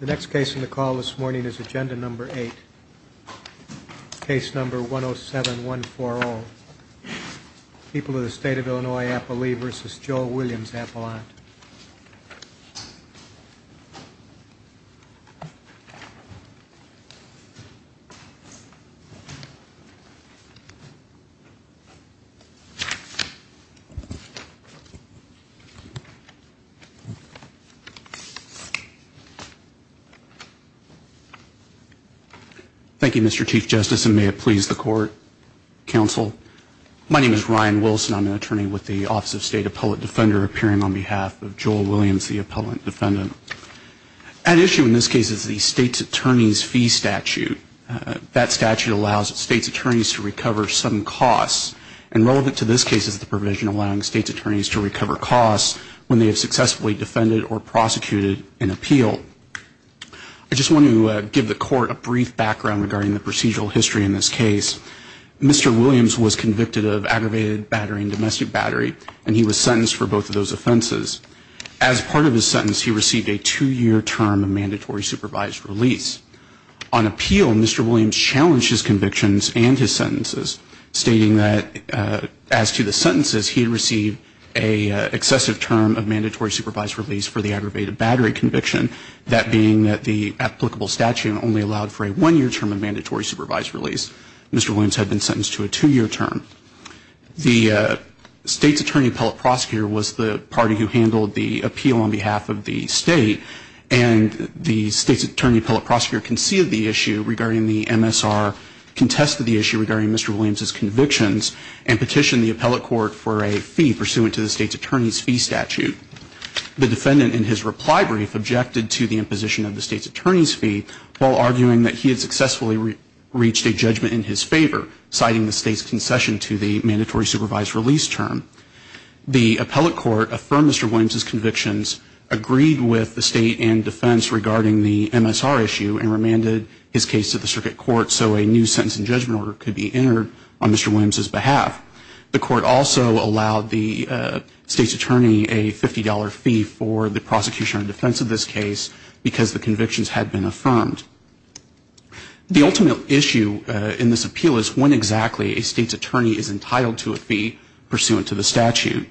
The next case in the call this morning is agenda number eight, case number 107-140. People of the state of Illinois, Appalee v. Joel Williams, Appalachia. Thank you, Mr. Chief Justice, and may it please the court, counsel. My name is Ryan Wilson. I'm an attorney with the Office of State Appellate Defender, appearing on behalf of Joel Williams, the appellant defendant. At issue in this case is the state's attorney's fee statute. That statute allows state's attorneys to recover some costs, and relevant to this case is the provision allowing state's attorneys to recover costs when they have successfully defended or prosecuted an appeal. I just want to give the court a brief background regarding the procedural history in this case. Mr. Williams was convicted of aggravated battery and domestic battery, and he was sentenced for both of those offenses. As part of his sentence, he received a two-year term of mandatory supervised release. On appeal, Mr. Williams challenged his convictions and his sentences, stating that as to the sentences, he received an excessive term of mandatory supervised release for the aggravated battery conviction, that being that the applicable statute only allowed for a one-year term of mandatory supervised release. Mr. Williams had been sentenced to a two-year term. The state's attorney appellate prosecutor was the party who handled the appeal on behalf of the state, and the state's attorney appellate prosecutor conceded the issue regarding the MSR, contested the issue regarding Mr. Williams' convictions, and petitioned the appellate court for a fee pursuant to the state's attorney's fee statute. The defendant, in his reply brief, objected to the imposition of the state's attorney's fee, while arguing that he had successfully reached a judgment in his favor, citing the state's concession to the mandatory supervised release term. The appellate court affirmed Mr. Williams' convictions, agreed with the state in defense regarding the MSR issue, and remanded his case to the circuit court so a new sentence and judgment order could be entered on Mr. Williams' behalf. The court also allowed the state's attorney a $50 fee for the prosecution and defense of this case because the convictions had been affirmed. The ultimate issue in this appeal is when exactly a state's attorney is entitled to a fee pursuant to the statute.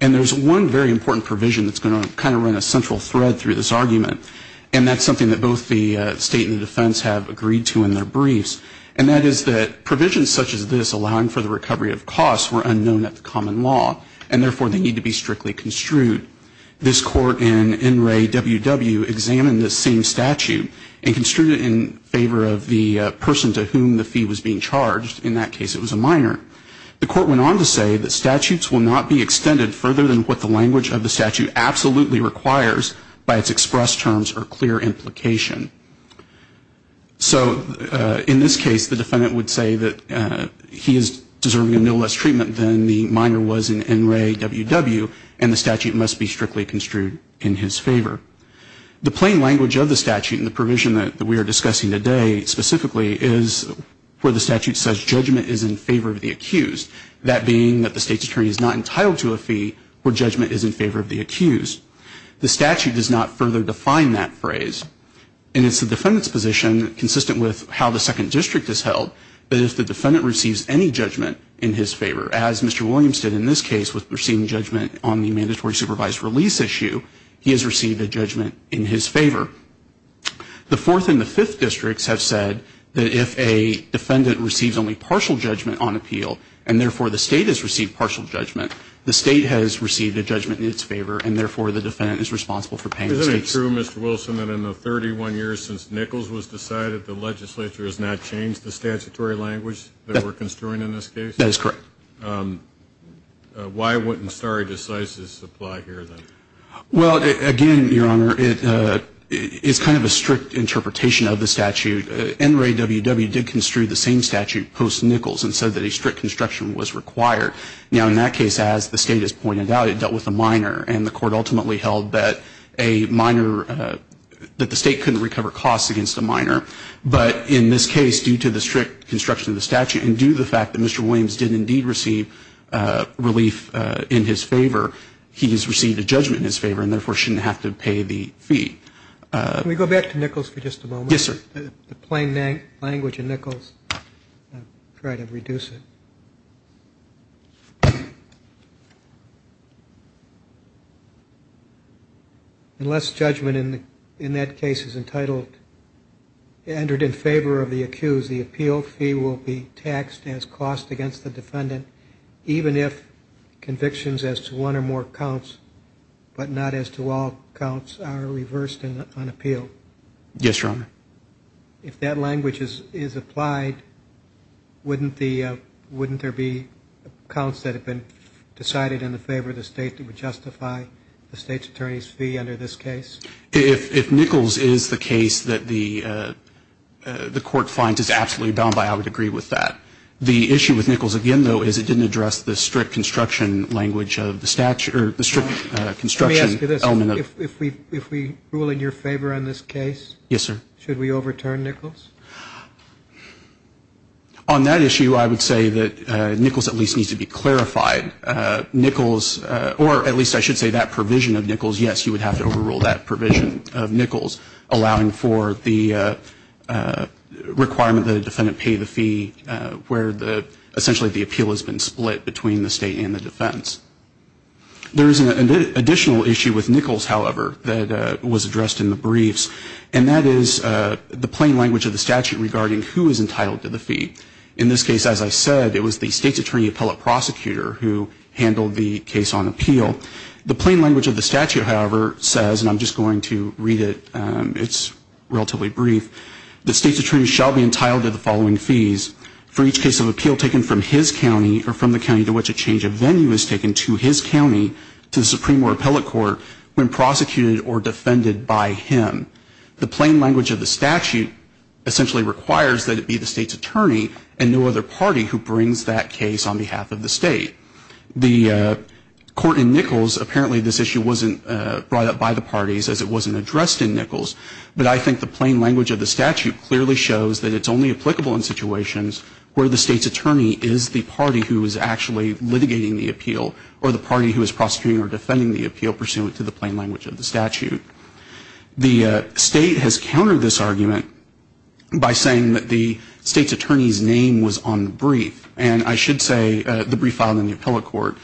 And there's one very important provision that's going to kind of run a central thread through this argument, and that's something that both the state and the defense have agreed to in their briefs, and that is that provisions such as this allowing for the recovery of costs were unknown at the common law, and therefore they need to be strictly construed. This court in NRA WW examined this same statute and construed it in favor of the person to whom the fee was being charged. In that case, it was a minor. The court went on to say that statutes will not be extended further than what the language of the statute absolutely requires by its express terms or clear implication. So in this case, the defendant would say that he is deserving of no less treatment than the minor was in NRA WW, and the statute must be strictly construed in his favor. The plain language of the statute and the provision that we are discussing today specifically is where the statute says judgment is in favor of the accused, that being that the state's attorney is not entitled to a fee where judgment is in favor of the accused. The statute does not further define that phrase, and it's the defendant's position consistent with how the second district is held, that if the defendant receives any judgment in his favor, as Mr. Williams did in this case with receiving judgment on the mandatory supervised release issue, he has received a judgment in his favor. The fourth and the fifth districts have said that if a defendant receives only partial judgment on appeal, and therefore the state has received partial judgment, the state has received a judgment in its favor, and therefore the defendant is responsible for paying the stakes. Isn't it true, Mr. Wilson, that in the 31 years since Nichols was decided, the legislature has not changed the statutory language that we're construing in this case? That is correct. Why wouldn't stare decisis apply here, then? Well, again, Your Honor, it's kind of a strict interpretation of the statute. NRA WW did construe the same statute post-Nichols and said that a strict construction was required. Now, in that case, as the State has pointed out, it dealt with a minor, and the Court ultimately held that a minor, that the State couldn't recover costs against a minor. But in this case, due to the strict construction of the statute, and due to the fact that Mr. Williams did indeed receive relief in his favor, he has received a judgment in his favor, and therefore shouldn't have to pay the fee. Can we go back to Nichols for just a moment? Yes, sir. The plain language in Nichols, I'll try to reduce it. Unless judgment in that case is entitled, entered in favor of the accused, the appeal fee will be taxed as cost against the defendant, even if convictions as to one or more counts, but not as to all counts, are reversed on appeal. Yes, Your Honor. If that language is applied, wouldn't there be counts that have been decided in the favor of the State that would justify the State's attorney's fee under this case? If Nichols is the case that the Court finds is absolutely done by, I would agree with that. The issue with Nichols, again, though, is it didn't address the strict construction language of the statute, or the strict construction element. If we rule in your favor on this case? Yes, sir. Should we overturn Nichols? On that issue, I would say that Nichols at least needs to be clarified. Nichols, or at least I should say that provision of Nichols, yes, you would have to overrule that provision of Nichols, allowing for the requirement that a defendant pay the fee where essentially the appeal has been split between the State and the defense. There is an additional issue with Nichols, however, that was addressed in the briefs, and that is the plain language of the statute regarding who is entitled to the fee. In this case, as I said, it was the State's attorney appellate prosecutor who handled the case on appeal. The plain language of the statute, however, says, and I'm just going to read it. It's relatively brief. The State's attorney shall be entitled to the following fees for each case of appeal taken from his county or from the county to which a change of venue is taken to his county to the Supreme Court appellate court when prosecuted or defended by him. The plain language of the statute essentially requires that it be the State's attorney and no other party who brings that case on behalf of the State. The court in Nichols, apparently this issue wasn't brought up by the parties, as it wasn't addressed in Nichols, but I think the plain language of the statute clearly shows that it's only applicable in situations where the State's attorney is the party who is actually litigating the appeal or the party who is prosecuting or defending the appeal pursuant to the plain language of the statute. The State has countered this argument by saying that the State's attorney's name was on the brief, and I should say the brief filed in the appellate court,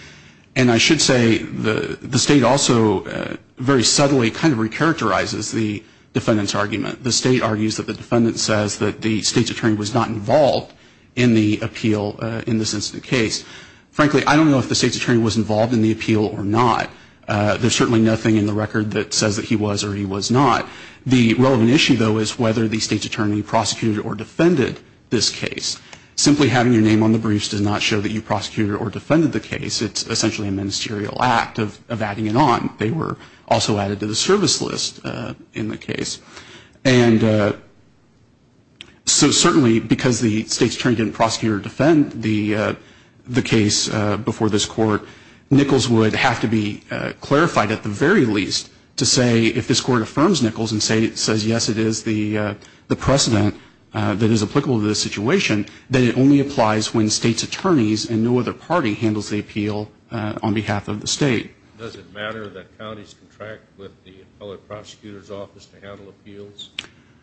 and I should say the State also very subtly kind of recharacterizes the defendant's argument. The State argues that the defendant says that the State's attorney was not involved in the appeal in this incident case. Frankly, I don't know if the State's attorney was involved in the appeal or not. There's certainly nothing in the record that says that he was or he was not. The relevant issue, though, is whether the State's attorney prosecuted or defended this case. Simply having your name on the briefs does not show that you prosecuted or defended the case. It's essentially a ministerial act of adding it on. They were also added to the service list in the case. And so certainly because the State's attorney didn't prosecute or defend the case before this court, Nichols would have to be clarified at the very least to say if this court affirms Nichols and says, yes, it is the precedent that is applicable to this situation, that it only applies when State's attorneys and no other party handles the appeal on behalf of the State. Does it matter that counties contract with the appellate prosecutor's office to handle appeals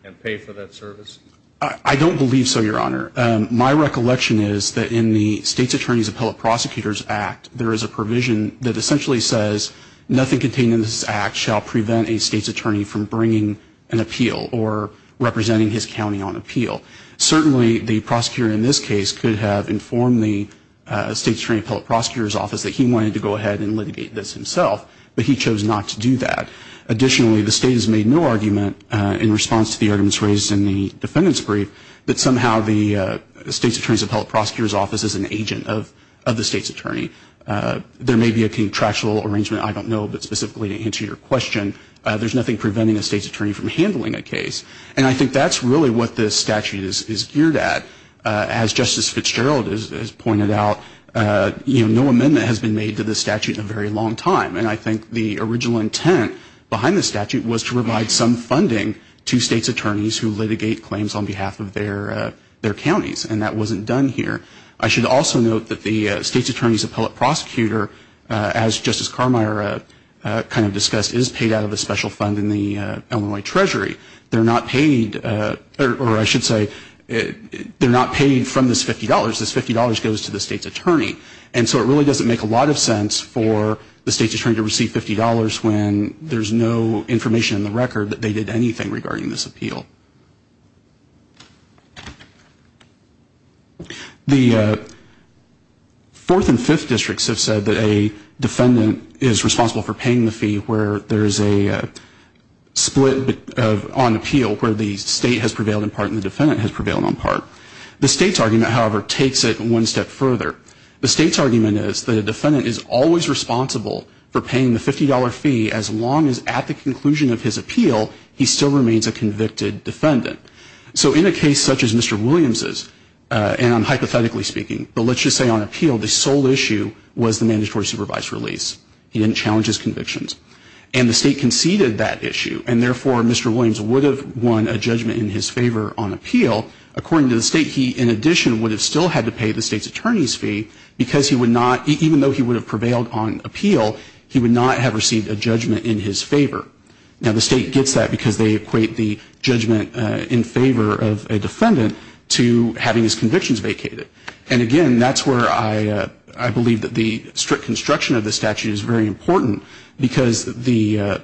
and pay for that service? I don't believe so, Your Honor. My recollection is that in the State's attorney's appellate prosecutor's act, there is a provision that essentially says nothing contained in this act shall prevent a State's attorney from bringing an appeal or representing his county on appeal. He wanted to go ahead and litigate this himself, but he chose not to do that. Additionally, the State has made no argument in response to the arguments raised in the defendant's brief that somehow the State's attorney's appellate prosecutor's office is an agent of the State's attorney. There may be a contractual arrangement, I don't know, but specifically to answer your question, there's nothing preventing a State's attorney from handling a case. And I think that's really what this statute is geared at. As Justice Fitzgerald has pointed out, you know, no amendment has been made to this statute in a very long time. And I think the original intent behind this statute was to provide some funding to State's attorneys who litigate claims on behalf of their counties, and that wasn't done here. I should also note that the State's attorney's appellate prosecutor, as Justice Carmeier kind of discussed, is paid out of a special fund in the Illinois Treasury. They're not paid, or I should say, they're not paid from this $50. This $50 goes to the State's attorney. And so it really doesn't make a lot of sense for the State's attorney to receive $50 when there's no information in the record that they did anything regarding this appeal. The fourth and fifth districts have said that a defendant is responsible for paying the fee where there is a split on appeal where the State has prevailed in part and the defendant has prevailed in part. The State's argument, however, takes it one step further. The State's argument is that a defendant is always responsible for paying the $50 fee as long as at the conclusion of his appeal he still remains a convicted defendant. So in a case such as Mr. Williams's, and hypothetically speaking, but let's just say on appeal, the sole issue was the mandatory supervised release. He didn't challenge his convictions. And the State conceded that issue. And therefore, Mr. Williams would have won a judgment in his favor on appeal. According to the State, he in addition would have still had to pay the State's attorney's fee because he would not, even though he would have prevailed on appeal, he would not have received a judgment in his favor. Now, the State gets that because they equate the judgment in favor of a defendant to having his convictions vacated. And again, that's where I believe that the strict construction of the statute is very important because the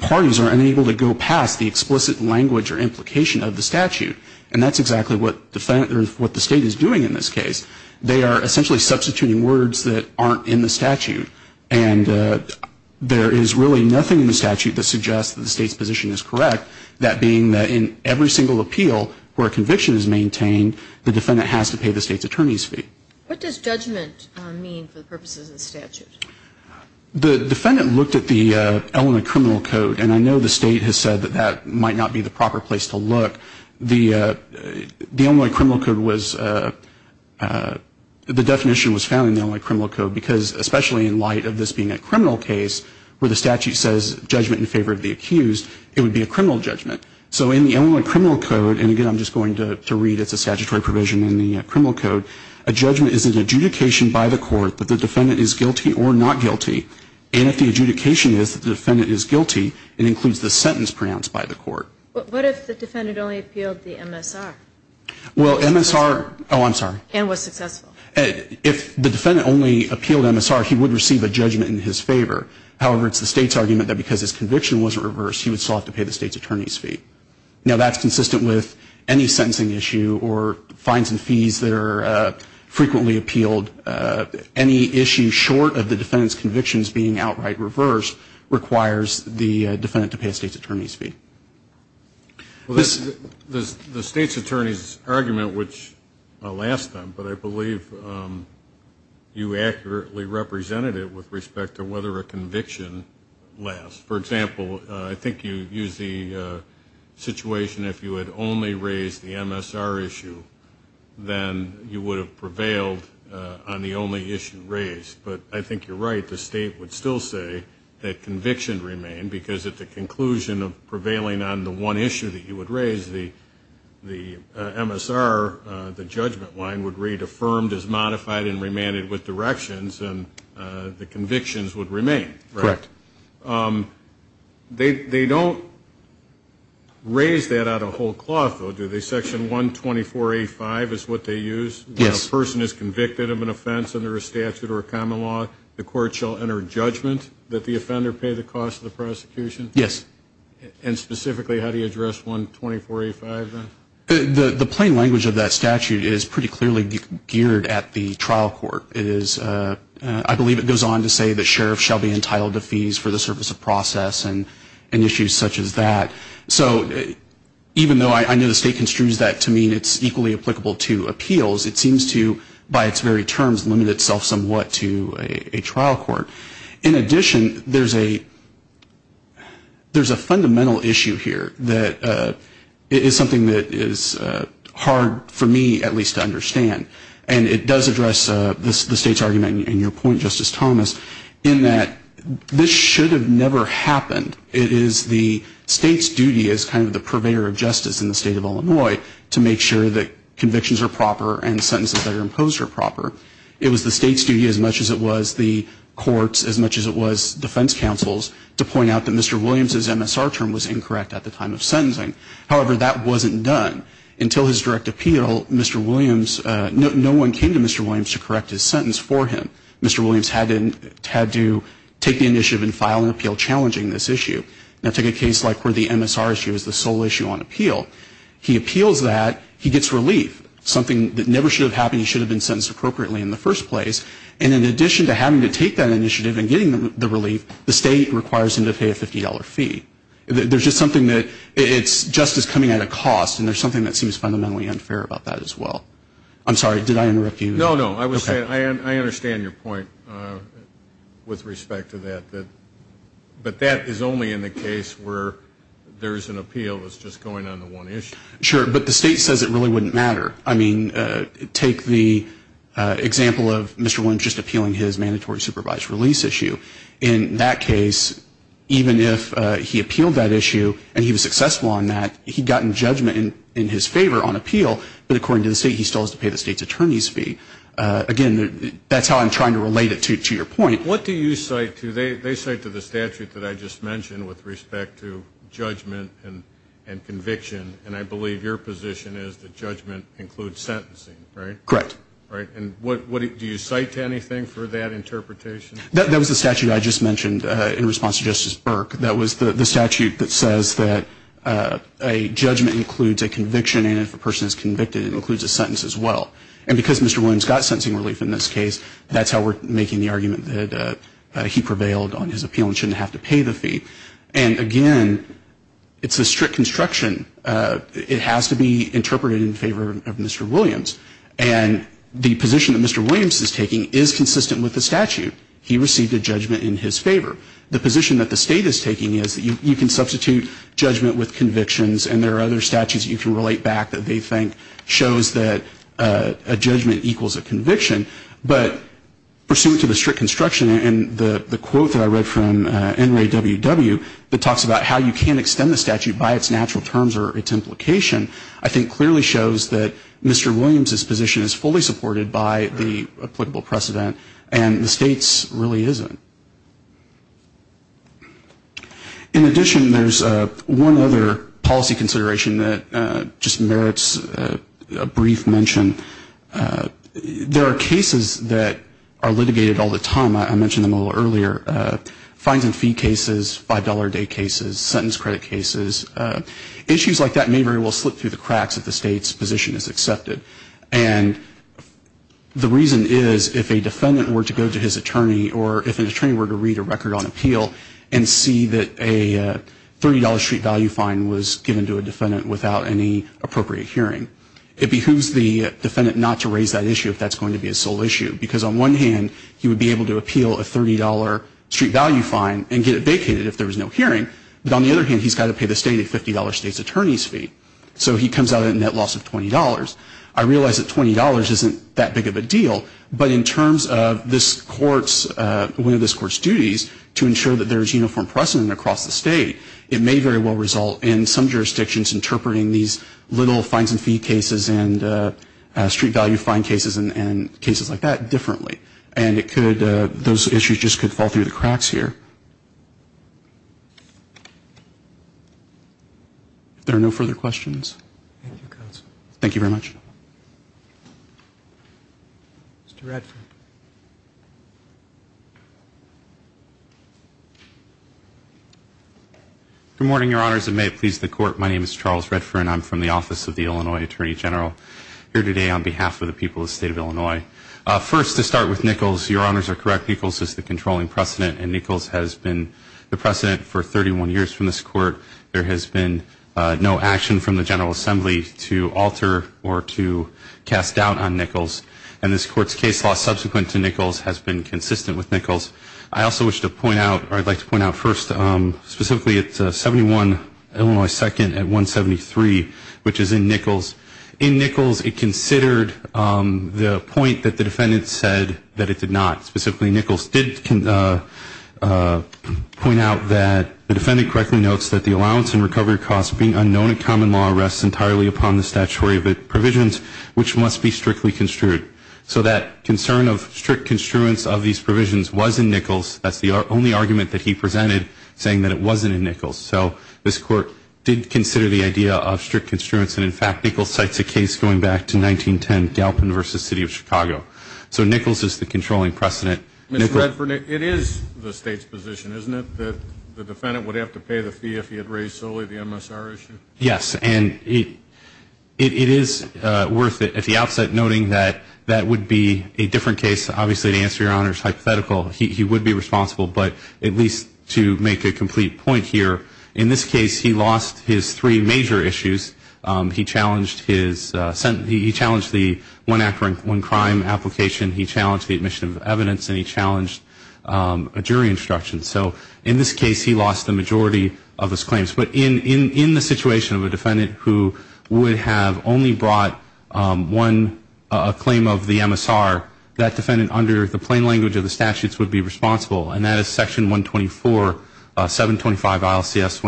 parties are unable to go past the explicit language or implication of the statute. And that's exactly what the State is doing in this case. They are essentially substituting words that aren't in the statute. And there is really nothing in the statute that suggests that the State's position is correct, that being that in every single appeal where a conviction is maintained, the defendant has to pay the State's attorney's fee. What does judgment mean for the purposes of the statute? The defendant looked at the Illinois Criminal Code, and I know the State has said that that might not be the proper place to look. The Illinois Criminal Code was, the definition was found in the Illinois Criminal Code because especially in light of this being a criminal case where the statute says judgment in favor of the accused, it would be a criminal judgment. So in the Illinois Criminal Code, and again, I'm just going to read, it's a statutory provision in the Criminal Code, a judgment is an adjudication by the court that the defendant is guilty or not guilty. And if the adjudication is that the defendant is guilty, it includes the sentence pronounced by the court. But what if the defendant only appealed the MSR? Well, MSR, oh, I'm sorry. And was successful. If the defendant only appealed MSR, he would receive a judgment in his favor. However, it's the State's argument that because his conviction wasn't reversed, he would still have to pay the State's attorney's fee. Now, that's consistent with any sentencing issue or fines and fees that are frequently appealed. Any issue short of the defendant's convictions being outright reversed requires the defendant to pay the State's attorney's fee. The State's attorney's argument, which I'll ask them, but I believe you accurately represented it with respect to whether a conviction lasts. For example, I think you used the situation if you had only raised the MSR issue, then you would have prevailed on the only issue raised. But I think you're right. The State would still say that conviction remained because at the conclusion of prevailing on the one issue that you would raise, the MSR, the judgment line, would read, affirmed as modified and remanded with directions, and the convictions would remain. Correct. They don't raise that out of whole cloth, though, do they? Section 124A5 is what they use. Yes. When a person is convicted of an offense under a statute or a common law, the court shall enter judgment that the offender pay the cost of the prosecution? Yes. And specifically, how do you address 124A5? The plain language of that statute is pretty clearly geared at the trial court. I believe it goes on to say the sheriff shall be entitled to fees for the service of process and issues such as that. So even though I know the State construes that to mean it's equally applicable to appeals, it seems to, by its very terms, limit itself somewhat to a trial court. In addition, there's a fundamental issue here that is something that is hard for me at least to understand, and it does address the State's argument in your point, Justice Thomas, in that this should have never happened. It is the State's duty as kind of the purveyor of justice in the State of Illinois to make sure that convictions are proper and sentences that are imposed are proper. It was the State's duty as much as it was the court's, as much as it was defense counsel's, to point out that Mr. Williams's MSR term was incorrect at the time of sentencing. However, that wasn't done. Until his direct appeal, Mr. Williams, no one came to Mr. Williams to correct his sentence for him. Mr. Williams had to take the initiative and file an appeal challenging this issue. Now, take a case like where the MSR issue is the sole issue on appeal. He appeals that. He gets relief. Something that never should have happened. He should have been sentenced appropriately in the first place. And in addition to having to take that initiative and getting the relief, the State requires him to pay a $50 fee. There's just something that it's just as coming at a cost, and there's something that seems fundamentally unfair about that as well. I'm sorry. Did I interrupt you? No, no. I understand your point with respect to that. But that is only in the case where there's an appeal that's just going on to one issue. Sure, but the State says it really wouldn't matter. I mean, take the example of Mr. Williams just appealing his mandatory supervised release issue. In that case, even if he appealed that issue and he was successful on that, he'd gotten judgment in his favor on appeal. But according to the State, he still has to pay the State's attorney's fee. Again, that's how I'm trying to relate it to your point. What do you cite to? They cite to the statute that I just mentioned with respect to judgment and conviction, and I believe your position is that judgment includes sentencing, right? Correct. And do you cite to anything for that interpretation? That was the statute I just mentioned in response to Justice Burke. That was the statute that says that a judgment includes a conviction, and if a person is convicted, it includes a sentence as well. And because Mr. Williams got sentencing relief in this case, that's how we're making the argument that he prevailed on his appeal and shouldn't have to pay the fee. And, again, it's a strict construction. It has to be interpreted in favor of Mr. Williams. And the position that Mr. Williams is taking is consistent with the statute. He received a judgment in his favor. The position that the State is taking is that you can substitute judgment with convictions, and there are other statutes you can relate back that they think shows that a judgment equals a conviction. But pursuant to the strict construction and the quote that I read from NRA WW that talks about how you can't extend the statute by its natural terms or its implication, I think clearly shows that Mr. Williams's position is fully supported by the applicable precedent, and the State's really isn't. In addition, there's one other policy consideration that just merits a brief mention. There are cases that are litigated all the time. I mentioned them a little earlier. Fines and fee cases, $5 a day cases, sentence credit cases, issues like that may very well slip through the cracks if the State's position is accepted. And the reason is if a defendant were to go to his attorney or if an attorney were to read a record on appeal and see that a $30 street value fine was given to a defendant without any appropriate hearing, it behooves the defendant not to raise that issue if that's going to be his sole issue. Because on one hand, he would be able to appeal a $30 street value fine and get it vacated if there was no hearing. But on the other hand, he's got to pay the State a $50 State's attorney's fee. So he comes out at a net loss of $20. I realize that $20 isn't that big of a deal, but in terms of this Court's, one of this Court's duties to ensure that there is uniform precedent across the State, it may very well result in some jurisdictions interpreting these little fines and fee cases and street value fine cases and cases like that differently. And it could, those issues just could fall through the cracks here. If there are no further questions. Thank you very much. Mr. Redfern. Good morning, Your Honors. And may it please the Court, my name is Charles Redfern. I'm from the Office of the Illinois Attorney General, here today on behalf of the people of the State of Illinois. First, to start with Nichols, Your Honors are correct, Nichols is the controlling precedent, and Nichols has been the precedent for 31 years from this Court. And this Court's case law subsequent to Nichols has been consistent with Nichols. I also wish to point out, or I'd like to point out first, specifically it's 71 Illinois 2nd at 173, which is in Nichols. In Nichols, it considered the point that the defendant said that it did not. Specifically, Nichols did point out that the defendant correctly notes that the allowance and recovery costs being unknown in common law rests entirely upon the statutory provisions, which must be strictly construed. So that concern of strict construence of these provisions was in Nichols. That's the only argument that he presented, saying that it wasn't in Nichols. So this Court did consider the idea of strict construence, and in fact Nichols cites a case going back to 1910, Galpin v. City of Chicago. So Nichols is the controlling precedent. Mr. Redfern, it is the State's position, isn't it, that the defendant would have to pay the fee if he had raised solely the MSR issue? Yes. And it is worth, at the outset, noting that that would be a different case. Obviously, to answer Your Honor's hypothetical, he would be responsible, but at least to make a complete point here, in this case he lost his three major issues. He challenged his sentence. He challenged the one-act one-crime application. He challenged the admission of evidence, and he challenged a jury instruction. So in this case, he lost the majority of his claims. But in the situation of a defendant who would have only brought one claim of the MSR, that defendant, under the plain language of the statutes, would be responsible, and that is Section 124, 725 ILCS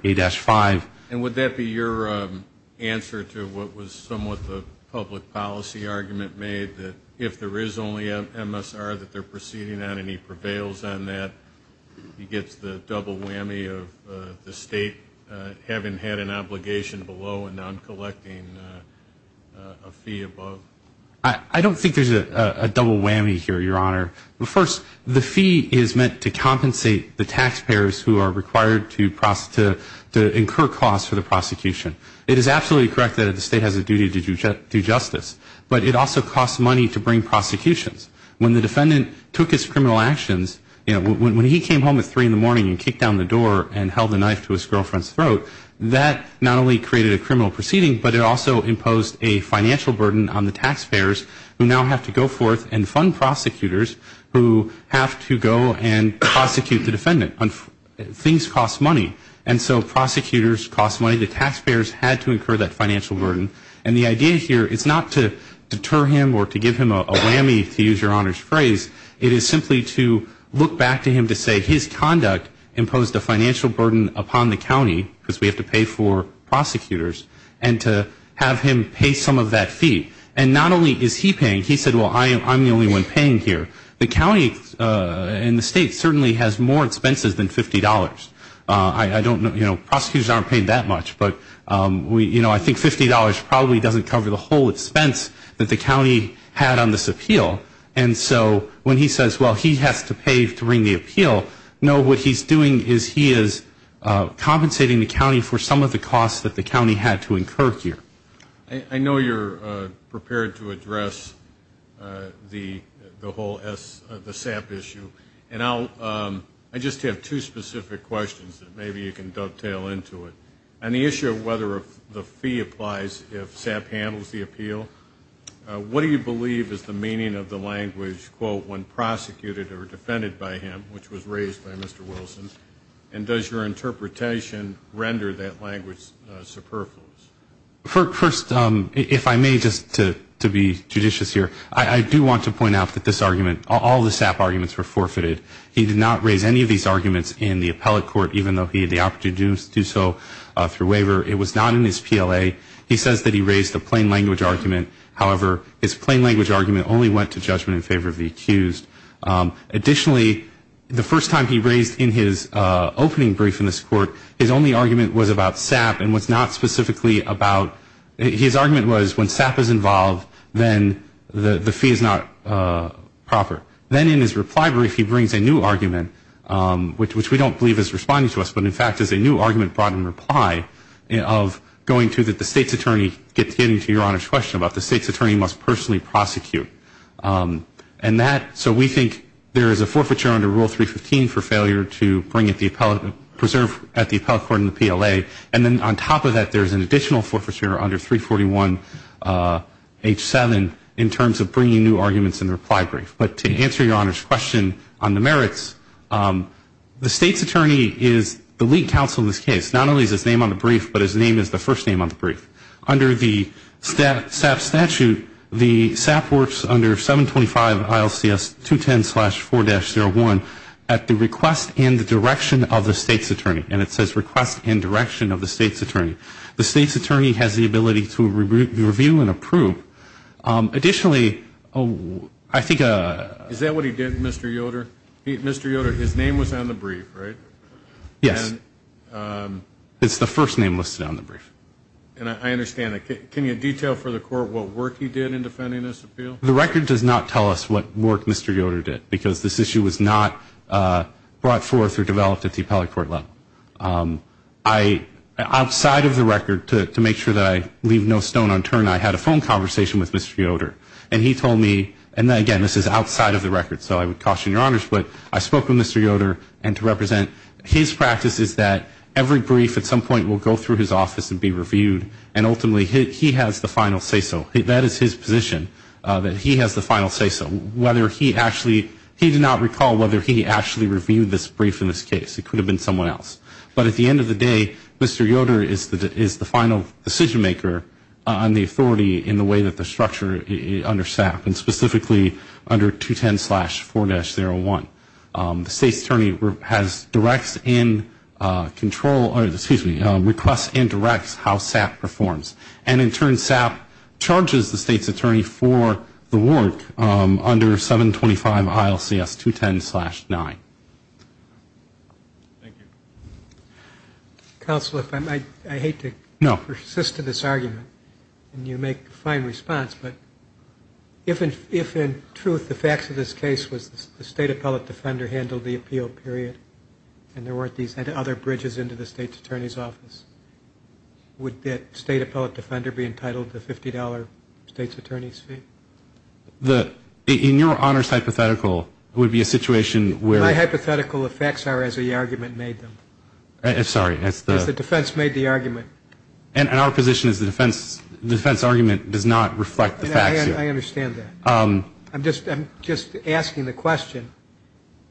124A-5. And would that be your answer to what was somewhat the public policy argument made, that if there is only an MSR that they're proceeding on and he prevails on that, he gets the double whammy of the state having had an obligation below and not collecting a fee above? I don't think there's a double whammy here, Your Honor. First, the fee is meant to compensate the taxpayers who are required to incur costs for the prosecution. It is absolutely correct that the state has a duty to do justice, but it also costs money to bring prosecutions. When the defendant took his criminal actions, you know, when he came home at 3 in the morning and kicked down the door and held a knife to his girlfriend's throat, that not only created a criminal proceeding, but it also imposed a financial burden on the taxpayers who now have to go forth and fund prosecutors who have to go and prosecute the defendant. Things cost money. And so prosecutors cost money. The taxpayers had to incur that financial burden. And the idea here is not to deter him or to give him a whammy, to use Your Honor's phrase, it is simply to look back to him to say his conduct imposed a financial burden upon the county because we have to pay for prosecutors, and to have him pay some of that fee. And not only is he paying, he said, well, I'm the only one paying here. The county and the state certainly has more expenses than $50. I don't know, you know, prosecutors aren't paid that much, but, you know, I think $50 probably doesn't cover the whole expense that the county had on this appeal. And so when he says, well, he has to pay to ring the appeal, no, what he's doing is he is compensating the county for some of the costs that the county had to incur here. I know you're prepared to address the whole SAP issue. And I just have two specific questions that maybe you can dovetail into it. On the issue of whether the fee applies if SAP handles the appeal, what do you believe is the meaning of the language, quote, when prosecuted or defended by him, which was raised by Mr. Wilson, and does your interpretation render that language superfluous? First, if I may, just to be judicious here, I do want to point out that this argument, all the SAP arguments were forfeited. He did not raise any of these arguments in the appellate court, even though he had the opportunity to do so through waiver. It was not in his PLA. He says that he raised a plain language argument. However, his plain language argument only went to judgment in favor of the accused. Additionally, the first time he raised in his opening brief in this court, his only argument was about SAP and was not specifically about his argument was when SAP is involved, then the fee is not proper. Then in his reply brief, he brings a new argument, which we don't believe is responding to us, but, in fact, is a new argument brought in reply of going to the state's attorney getting to your Honor's question about the state's attorney must personally prosecute. And that, so we think there is a forfeiture under Rule 315 for failure to bring at the appellate, preserve at the appellate court in the PLA. And then on top of that, there is an additional forfeiture under 341H7 in terms of bringing new arguments in the reply brief. But to answer your Honor's question on the merits, the state's attorney is the lead counsel in this case. Not only is his name on the brief, but his name is the first name on the brief. Under the SAP statute, the SAP works under 725 ILCS 210-4-01 at the request and the direction of the state's attorney. And it says request and direction of the state's attorney. The state's attorney has the ability to review and approve. Additionally, I think. Is that what he did, Mr. Yoder? Mr. Yoder, his name was on the brief, right? Yes. It's the first name listed on the brief. And I understand. Can you detail for the court what work he did in defending this appeal? The record does not tell us what work Mr. Yoder did, because this issue was not brought forth or developed at the appellate court level. Outside of the record, to make sure that I leave no stone unturned, I had a phone conversation with Mr. Yoder. And he told me, and again, this is outside of the record, so I would caution your Honor's, but I spoke with Mr. Yoder. And to represent his practice is that every brief at some point will go through his office and be reviewed, and ultimately he has the final say-so. That is his position, that he has the final say-so. Whether he actually, he did not recall whether he actually reviewed this brief in this case. It could have been someone else. But at the end of the day, Mr. Yoder is the final decision-maker on the authority in the way that the structure under SAP, and specifically under 210-4-01. The state's attorney has directs and control, or excuse me, requests and directs how SAP performs. And in turn, SAP charges the state's attorney for the work under 725-ILCS-210-9. Thank you. Counsel, I hate to persist in this argument, and you make a fine response, but if in truth the facts of this case was the state appellate defender handled the appeal period and there weren't these other bridges into the state's attorney's office, would that state appellate defender be entitled to $50 state's attorney's fee? In your honors hypothetical, it would be a situation where- My hypothetical effects are as the argument made them. Sorry, that's the- As the defense made the argument. And our position is the defense argument does not reflect the facts. I understand that. I'm just asking the question,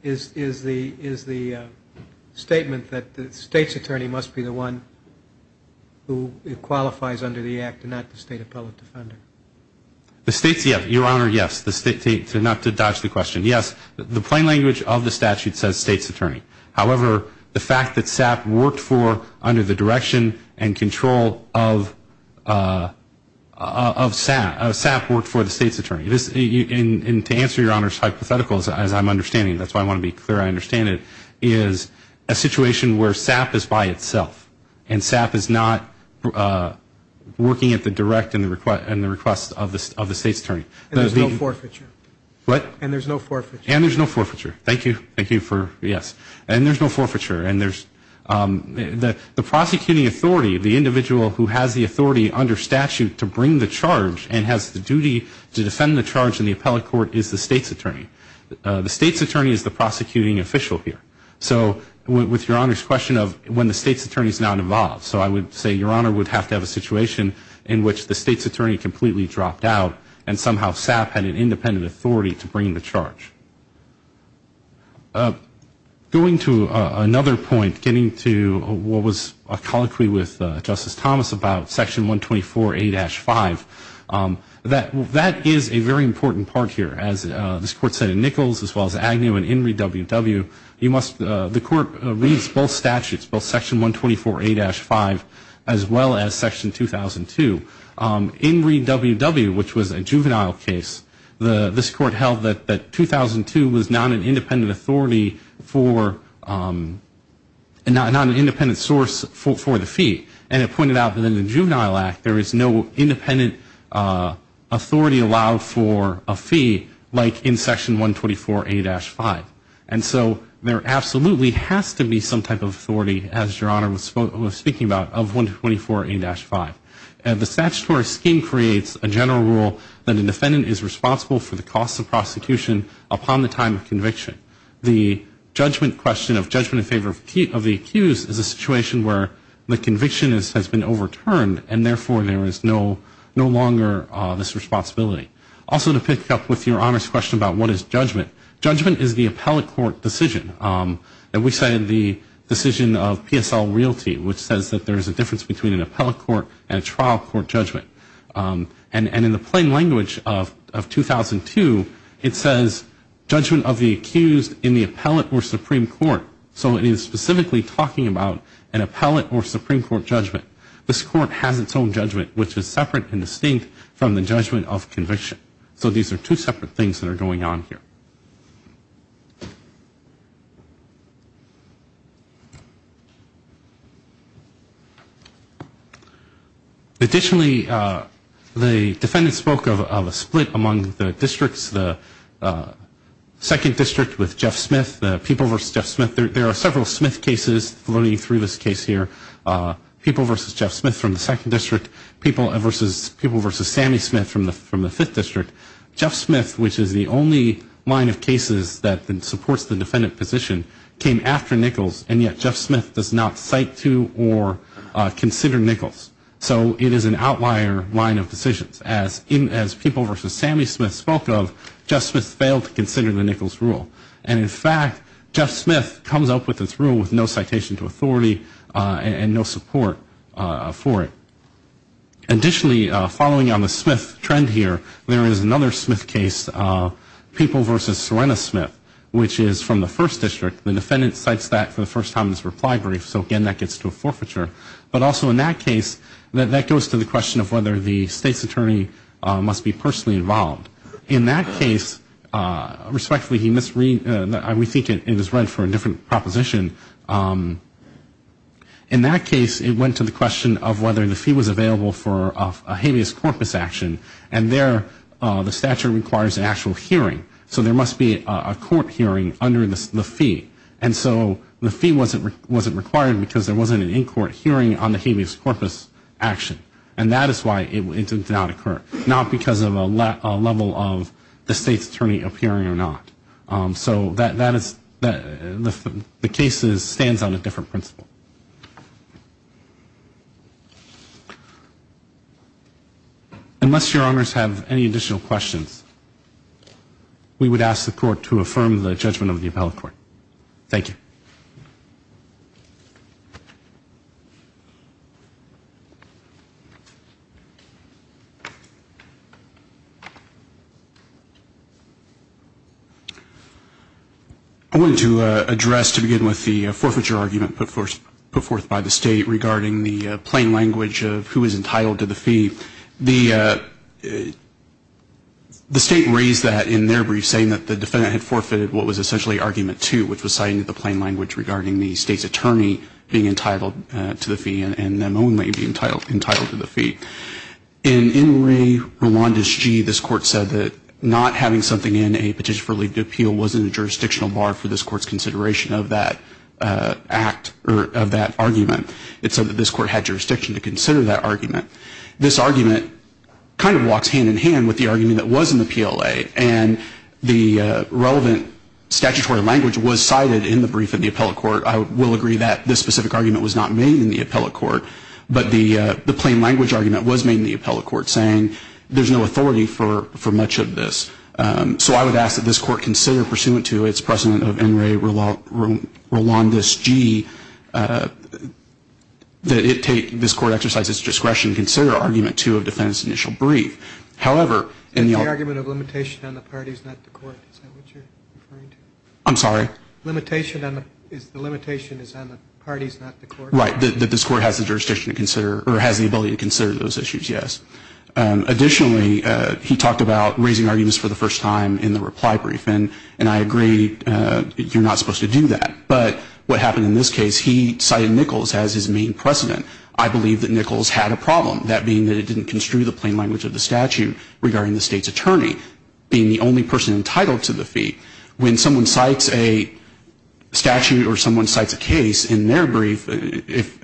is the statement that the state's attorney must be the one who qualifies under the act and not the state appellate defender? The state's, your honor, yes. Not to dodge the question, yes. The plain language of the statute says state's attorney. However, the fact that SAP worked for under the direction and control of SAP, SAP worked for the state's attorney. And to answer your honor's hypothetical, as I'm understanding, that's why I want to be clear, I understand it, is a situation where SAP is by itself, and SAP is not working at the direct and the request of the state's attorney. And there's no forfeiture. What? And there's no forfeiture. And there's no forfeiture. Thank you. Thank you for, yes. And there's no forfeiture. And there's, the prosecuting authority, the individual who has the authority under statute to bring the charge and has the duty to defend the charge in the appellate court is the state's attorney. The state's attorney is the prosecuting official here. So with your honor's question of when the state's attorney is not involved, so I would say your honor would have to have a situation in which the state's attorney completely dropped out and somehow SAP had an independent authority to bring the charge. Going to another point, getting to what was a colloquy with Justice Thomas about Section 124A-5, that is a very important part here. As this Court said in Nichols, as well as Agnew and Inree, the Court reads both statutes, both Section 124A-5 as well as Section 2002. Inree WW, which was a juvenile case, this Court held that 2002 was not an independent authority for, not an independent source for the fee. And it pointed out that in the Juvenile Act there is no independent authority allowed for a fee like in Section 124A-5. And so there absolutely has to be some type of authority, as your honor was speaking about, of 124A-5. The statutory scheme creates a general rule that a defendant is responsible for the costs of prosecution upon the time of conviction. The judgment question of judgment in favor of the accused is a situation where the conviction has been overturned and therefore there is no longer this responsibility. Also to pick up with your honor's question about what is judgment, judgment is the appellate court decision. And we say the decision of PSL Realty, which says that there is a difference between an appellate court and a trial court judgment. And in the plain language of 2002, it says judgment of the accused in the appellate or Supreme Court. So it is specifically talking about an appellate or Supreme Court judgment. This Court has its own judgment, which is separate and distinct from the judgment of conviction. So these are two separate things that are going on here. Additionally, the defendant spoke of a split among the districts. The 2nd District with Jeff Smith, the People v. Jeff Smith. There are several Smith cases floating through this case here. People v. Jeff Smith from the 2nd District, People v. Sammy Smith from the 5th District. Jeff Smith, which is the only line of cases that supports the defendant position, came after Nichols, and yet Jeff Smith does not cite to or consider Nichols. So it is an outlier line of decisions. As People v. Sammy Smith spoke of, Jeff Smith failed to consider the Nichols rule. And in fact, Jeff Smith comes up with this rule with no citation to authority and no support for it. Additionally, following on the Smith trend here, there is another Smith case, People v. Serena Smith, which is from the 1st District. The defendant cites that for the first time in this reply brief, so again, that gets to a forfeiture. But also in that case, that goes to the question of whether the state's attorney must be personally involved. In that case, respectfully, he misread, we think it was read for a different proposition. In that case, it went to the question of whether the fee was available for a habeas corpus action. And there, the statute requires an actual hearing. So there must be a court hearing under the fee. And so the fee wasn't required because there wasn't an in-court hearing on the habeas corpus action. And that is why it did not occur, not because of a level of the state's attorney appearing or not. So that is, the case stands on a different principle. Unless your honors have any additional questions, we would ask the court to affirm the judgment of the appellate court. Thank you. I wanted to address, to begin with, the forfeiture argument put forth by the state regarding the plain language of who is entitled to the fee. The state raised that in their brief, saying that the defendant had forfeited what was essentially argument two, which was citing the plain language regarding the state's attorney being entitled to the fee and them only being entitled to the fee. In Enry Rwanda's G, this court said that not having something in a petition for legal appeal wasn't a jurisdictional bar for this court's consideration of that act, or of that argument. It said that this court had jurisdiction to consider that argument. This argument kind of walks hand in hand with the argument that was in the PLA, and the relevant statutory language was cited in the brief of the appellate court. I will agree that this specific argument was not made in the appellate court, but the plain language argument was made in the appellate court, saying there's no authority for much of this. So I would ask that this court consider, pursuant to its precedent of Enry Rwanda's G, that it take this court exercise its discretion, to consider argument two of the defendant's initial brief. However, in the argument of limitation on the parties, not the court, is that what you're referring to? I'm sorry? The limitation is on the parties, not the court. Right, that this court has the jurisdiction to consider, or has the ability to consider those issues, yes. Additionally, he talked about raising arguments for the first time in the reply brief, and I agree, you're not supposed to do that. But what happened in this case, he cited Nichols as his main precedent. I believe that Nichols had a problem, that being that it didn't construe the plain language of the statute regarding the state's attorney being the only person entitled to the fee. When someone cites a statute or someone cites a case in their brief,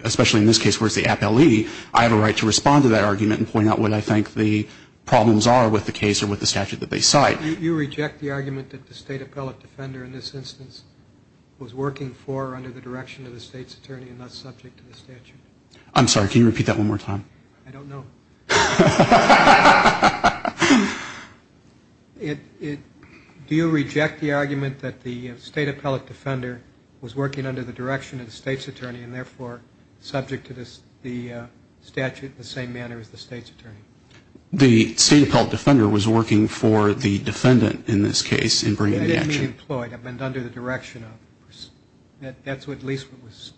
especially in this case where it's the appellee, I have a right to respond to that argument and point out what I think the problems are with the case or with the statute that they cite. You reject the argument that the state appellate defender in this instance was working for or under the direction of the state's attorney and not subject to the statute? I'm sorry, can you repeat that one more time? I don't know. Do you reject the argument that the state appellate defender was working under the direction of the state's attorney and therefore subject to the statute in the same manner as the state's attorney? The state appellate defender was working for the defendant in this case in bringing the action. It didn't mean employed, under the direction of. That's at least what was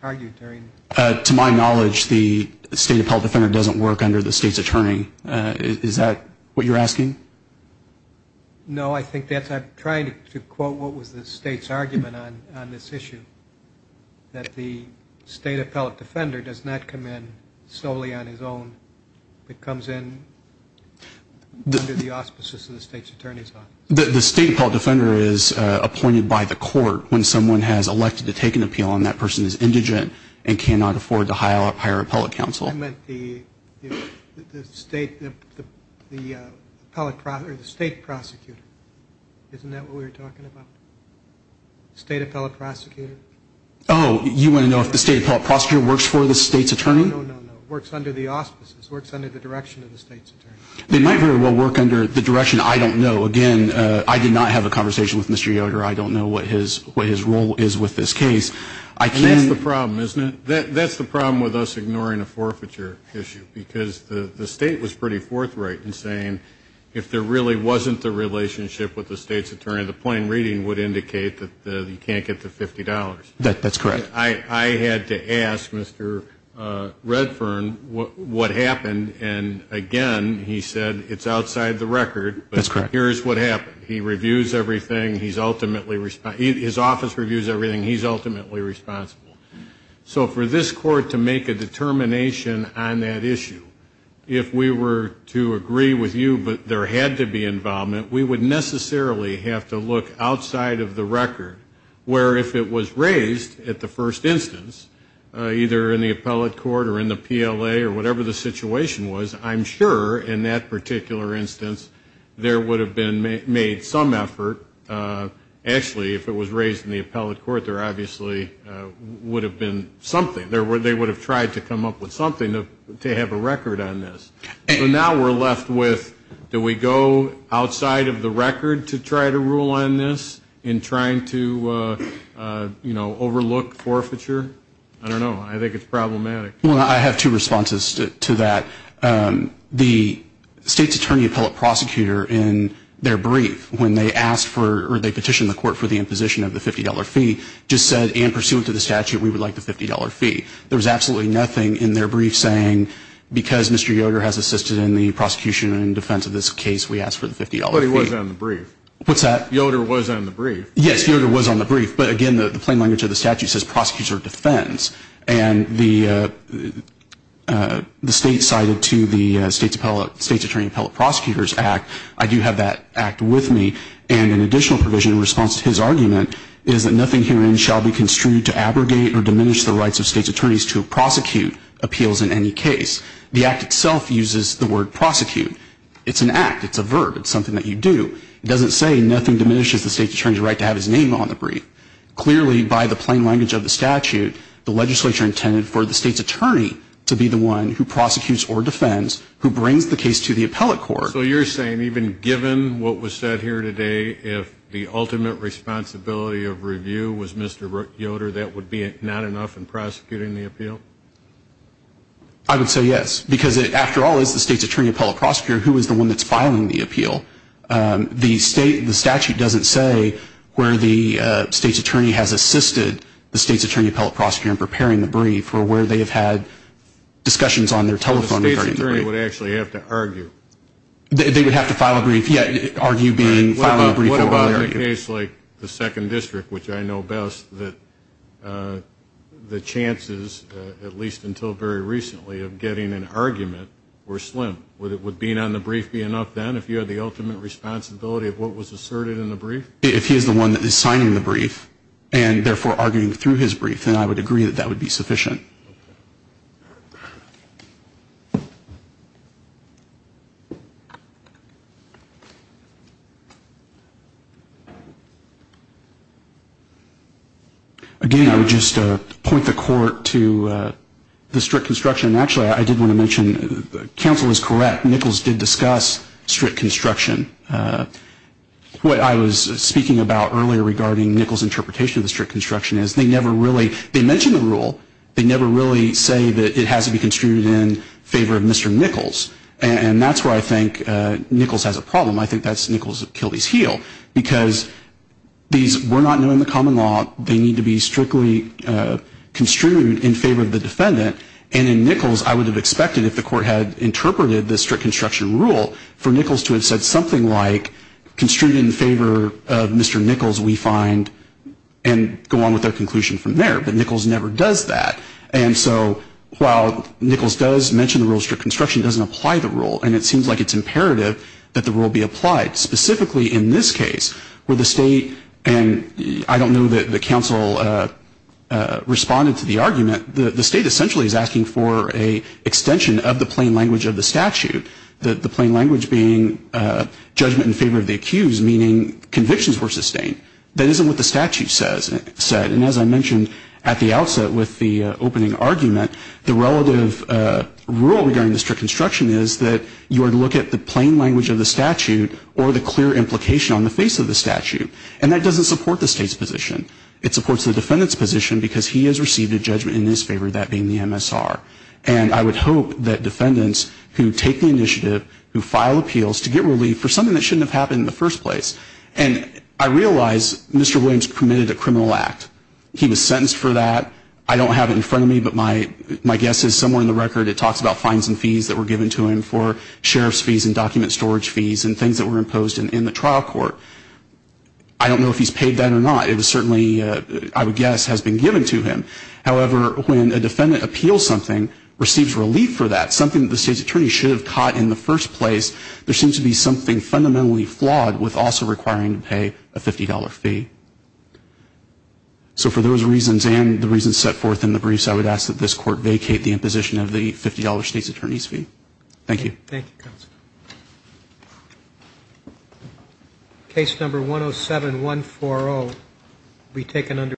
argued during. To my knowledge, the state appellate defender doesn't work under the state's attorney. Is that what you're asking? No, I think that's I'm trying to quote what was the state's argument on this issue, that the state appellate defender does not come in solely on his own. It comes in under the auspices of the state's attorney's office. The state appellate defender is appointed by the court when someone has elected to take an appeal and that person is indigent and cannot afford to hire appellate counsel. I meant the state prosecutor. Isn't that what we were talking about? State appellate prosecutor? Oh, you want to know if the state appellate prosecutor works for the state's attorney? No, no, no, no. Works under the auspices. Works under the direction of the state's attorney. They might very well work under the direction, I don't know. Again, I did not have a conversation with Mr. Yoder. I don't know what his role is with this case. And that's the problem, isn't it? That's the problem with us ignoring a forfeiture issue. Because the state was pretty forthright in saying if there really wasn't the relationship with the state's attorney, the plain reading would indicate that you can't get the $50. That's correct. I had to ask Mr. Redfern what happened. And again, he said it's outside the record. That's correct. But here's what happened. He reviews everything. His office reviews everything. He's ultimately responsible. So for this court to make a determination on that issue, if we were to agree with you that there had to be involvement, we would necessarily have to look outside of the record. Where if it was raised at the first instance, either in the appellate court or in the PLA or whatever the situation was, I'm sure in that particular instance there would have been made some effort. Actually, if it was raised in the appellate court, there obviously would have been something. They would have tried to come up with something to have a record on this. So now we're left with do we go outside of the record to try to rule on this in trying to, you know, overlook forfeiture? I don't know. I think it's problematic. Well, I have two responses to that. The state's attorney appellate prosecutor in their brief when they petitioned the court for the imposition of the $50 fee just said in pursuit of the statute we would like the $50 fee. There was absolutely nothing in their brief saying because Mr. Yoder has assisted in the prosecution and defense of this case, we ask for the $50 fee. But he was on the brief. What's that? Well, I do have that act with me. And an additional provision in response to his argument is that nothing herein shall be construed to abrogate or diminish the rights of state's attorneys to prosecute appeals in any case. The act itself uses the word prosecute. It's an act. It's a verb. It's something that you do. It doesn't say nothing diminishes the state's attorney's right to have his name on the brief. Clearly, by the plain language of the statute, the legislature intended for the state's attorney to be the one who prosecutes or defends, who brings the case to the appellate court. So you're saying even given what was said here today, if the ultimate responsibility of review was Mr. Yoder, that would be not enough in prosecuting the appeal? I would say yes. Because, after all, it's the state's attorney appellate prosecutor who is the one that's filing the appeal. The statute doesn't say where the state's attorney has assisted the state's attorney appellate prosecutor in preparing the brief or where they have had discussions on their telephone regarding the brief. The state's attorney would actually have to argue. They would have to file a brief. Yeah, argue being filing a brief. What about in a case like the Second District, which I know best, that the chances, at least until very recently, of getting an argument were slim? Would being on the brief be enough then if you had the ultimate responsibility of what was asserted in the brief? If he is the one that is signing the brief and, therefore, arguing through his brief, then I would agree that that would be sufficient. Again, I would just point the court to the strict construction. Actually, I did want to mention, counsel is correct, Nichols did discuss strict construction. What I was speaking about earlier regarding Nichols' interpretation of the strict construction is they never really, they mention the rule, they never really say that it has to be construed in favor of Mr. Nichols. And that's where I think Nichols has a problem. I think that's Nichols' Achilles heel. Because these were not new in the common law. They need to be strictly construed in favor of the defendant. And in Nichols, I would have expected, if the court had interpreted the strict construction rule, for Nichols to have said something like, construed in favor of Mr. Nichols, we find, and go on with their conclusion from there. But Nichols never does that. And so while Nichols does mention the rule of strict construction, it doesn't apply the rule. And it seems like it's imperative that the rule be applied. Specifically in this case, where the state, and I don't know that the counsel responded to the argument, the state essentially is asking for an extension of the plain language of the statute. The plain language being judgment in favor of the accused, meaning convictions were sustained. That isn't what the statute said. And as I mentioned at the outset with the opening argument, the relative rule regarding the strict construction is that you would look at the plain language of the statute or the clear implication on the face of the statute. And that doesn't support the state's position. It supports the defendant's position because he has received a judgment in his favor, that being the MSR. And I would hope that defendants who take the initiative, who file appeals to get relief for something that shouldn't have happened in the first place. And I realize Mr. Williams committed a criminal act. He was sentenced for that. I don't have it in front of me, but my guess is somewhere in the record it talks about fines and fees that were given to him for sheriff's fees and document storage fees and things that were imposed in the trial court. I don't know if he's paid that or not. It certainly, I would guess, has been given to him. However, when a defendant appeals something, receives relief for that, something that the state's attorney should have caught in the first place, there seems to be something fundamentally flawed with also requiring to pay a $50 fee. So for those reasons and the reasons set forth in the briefs, I would ask that this court vacate the imposition of the $50 state's attorney's fee. Thank you.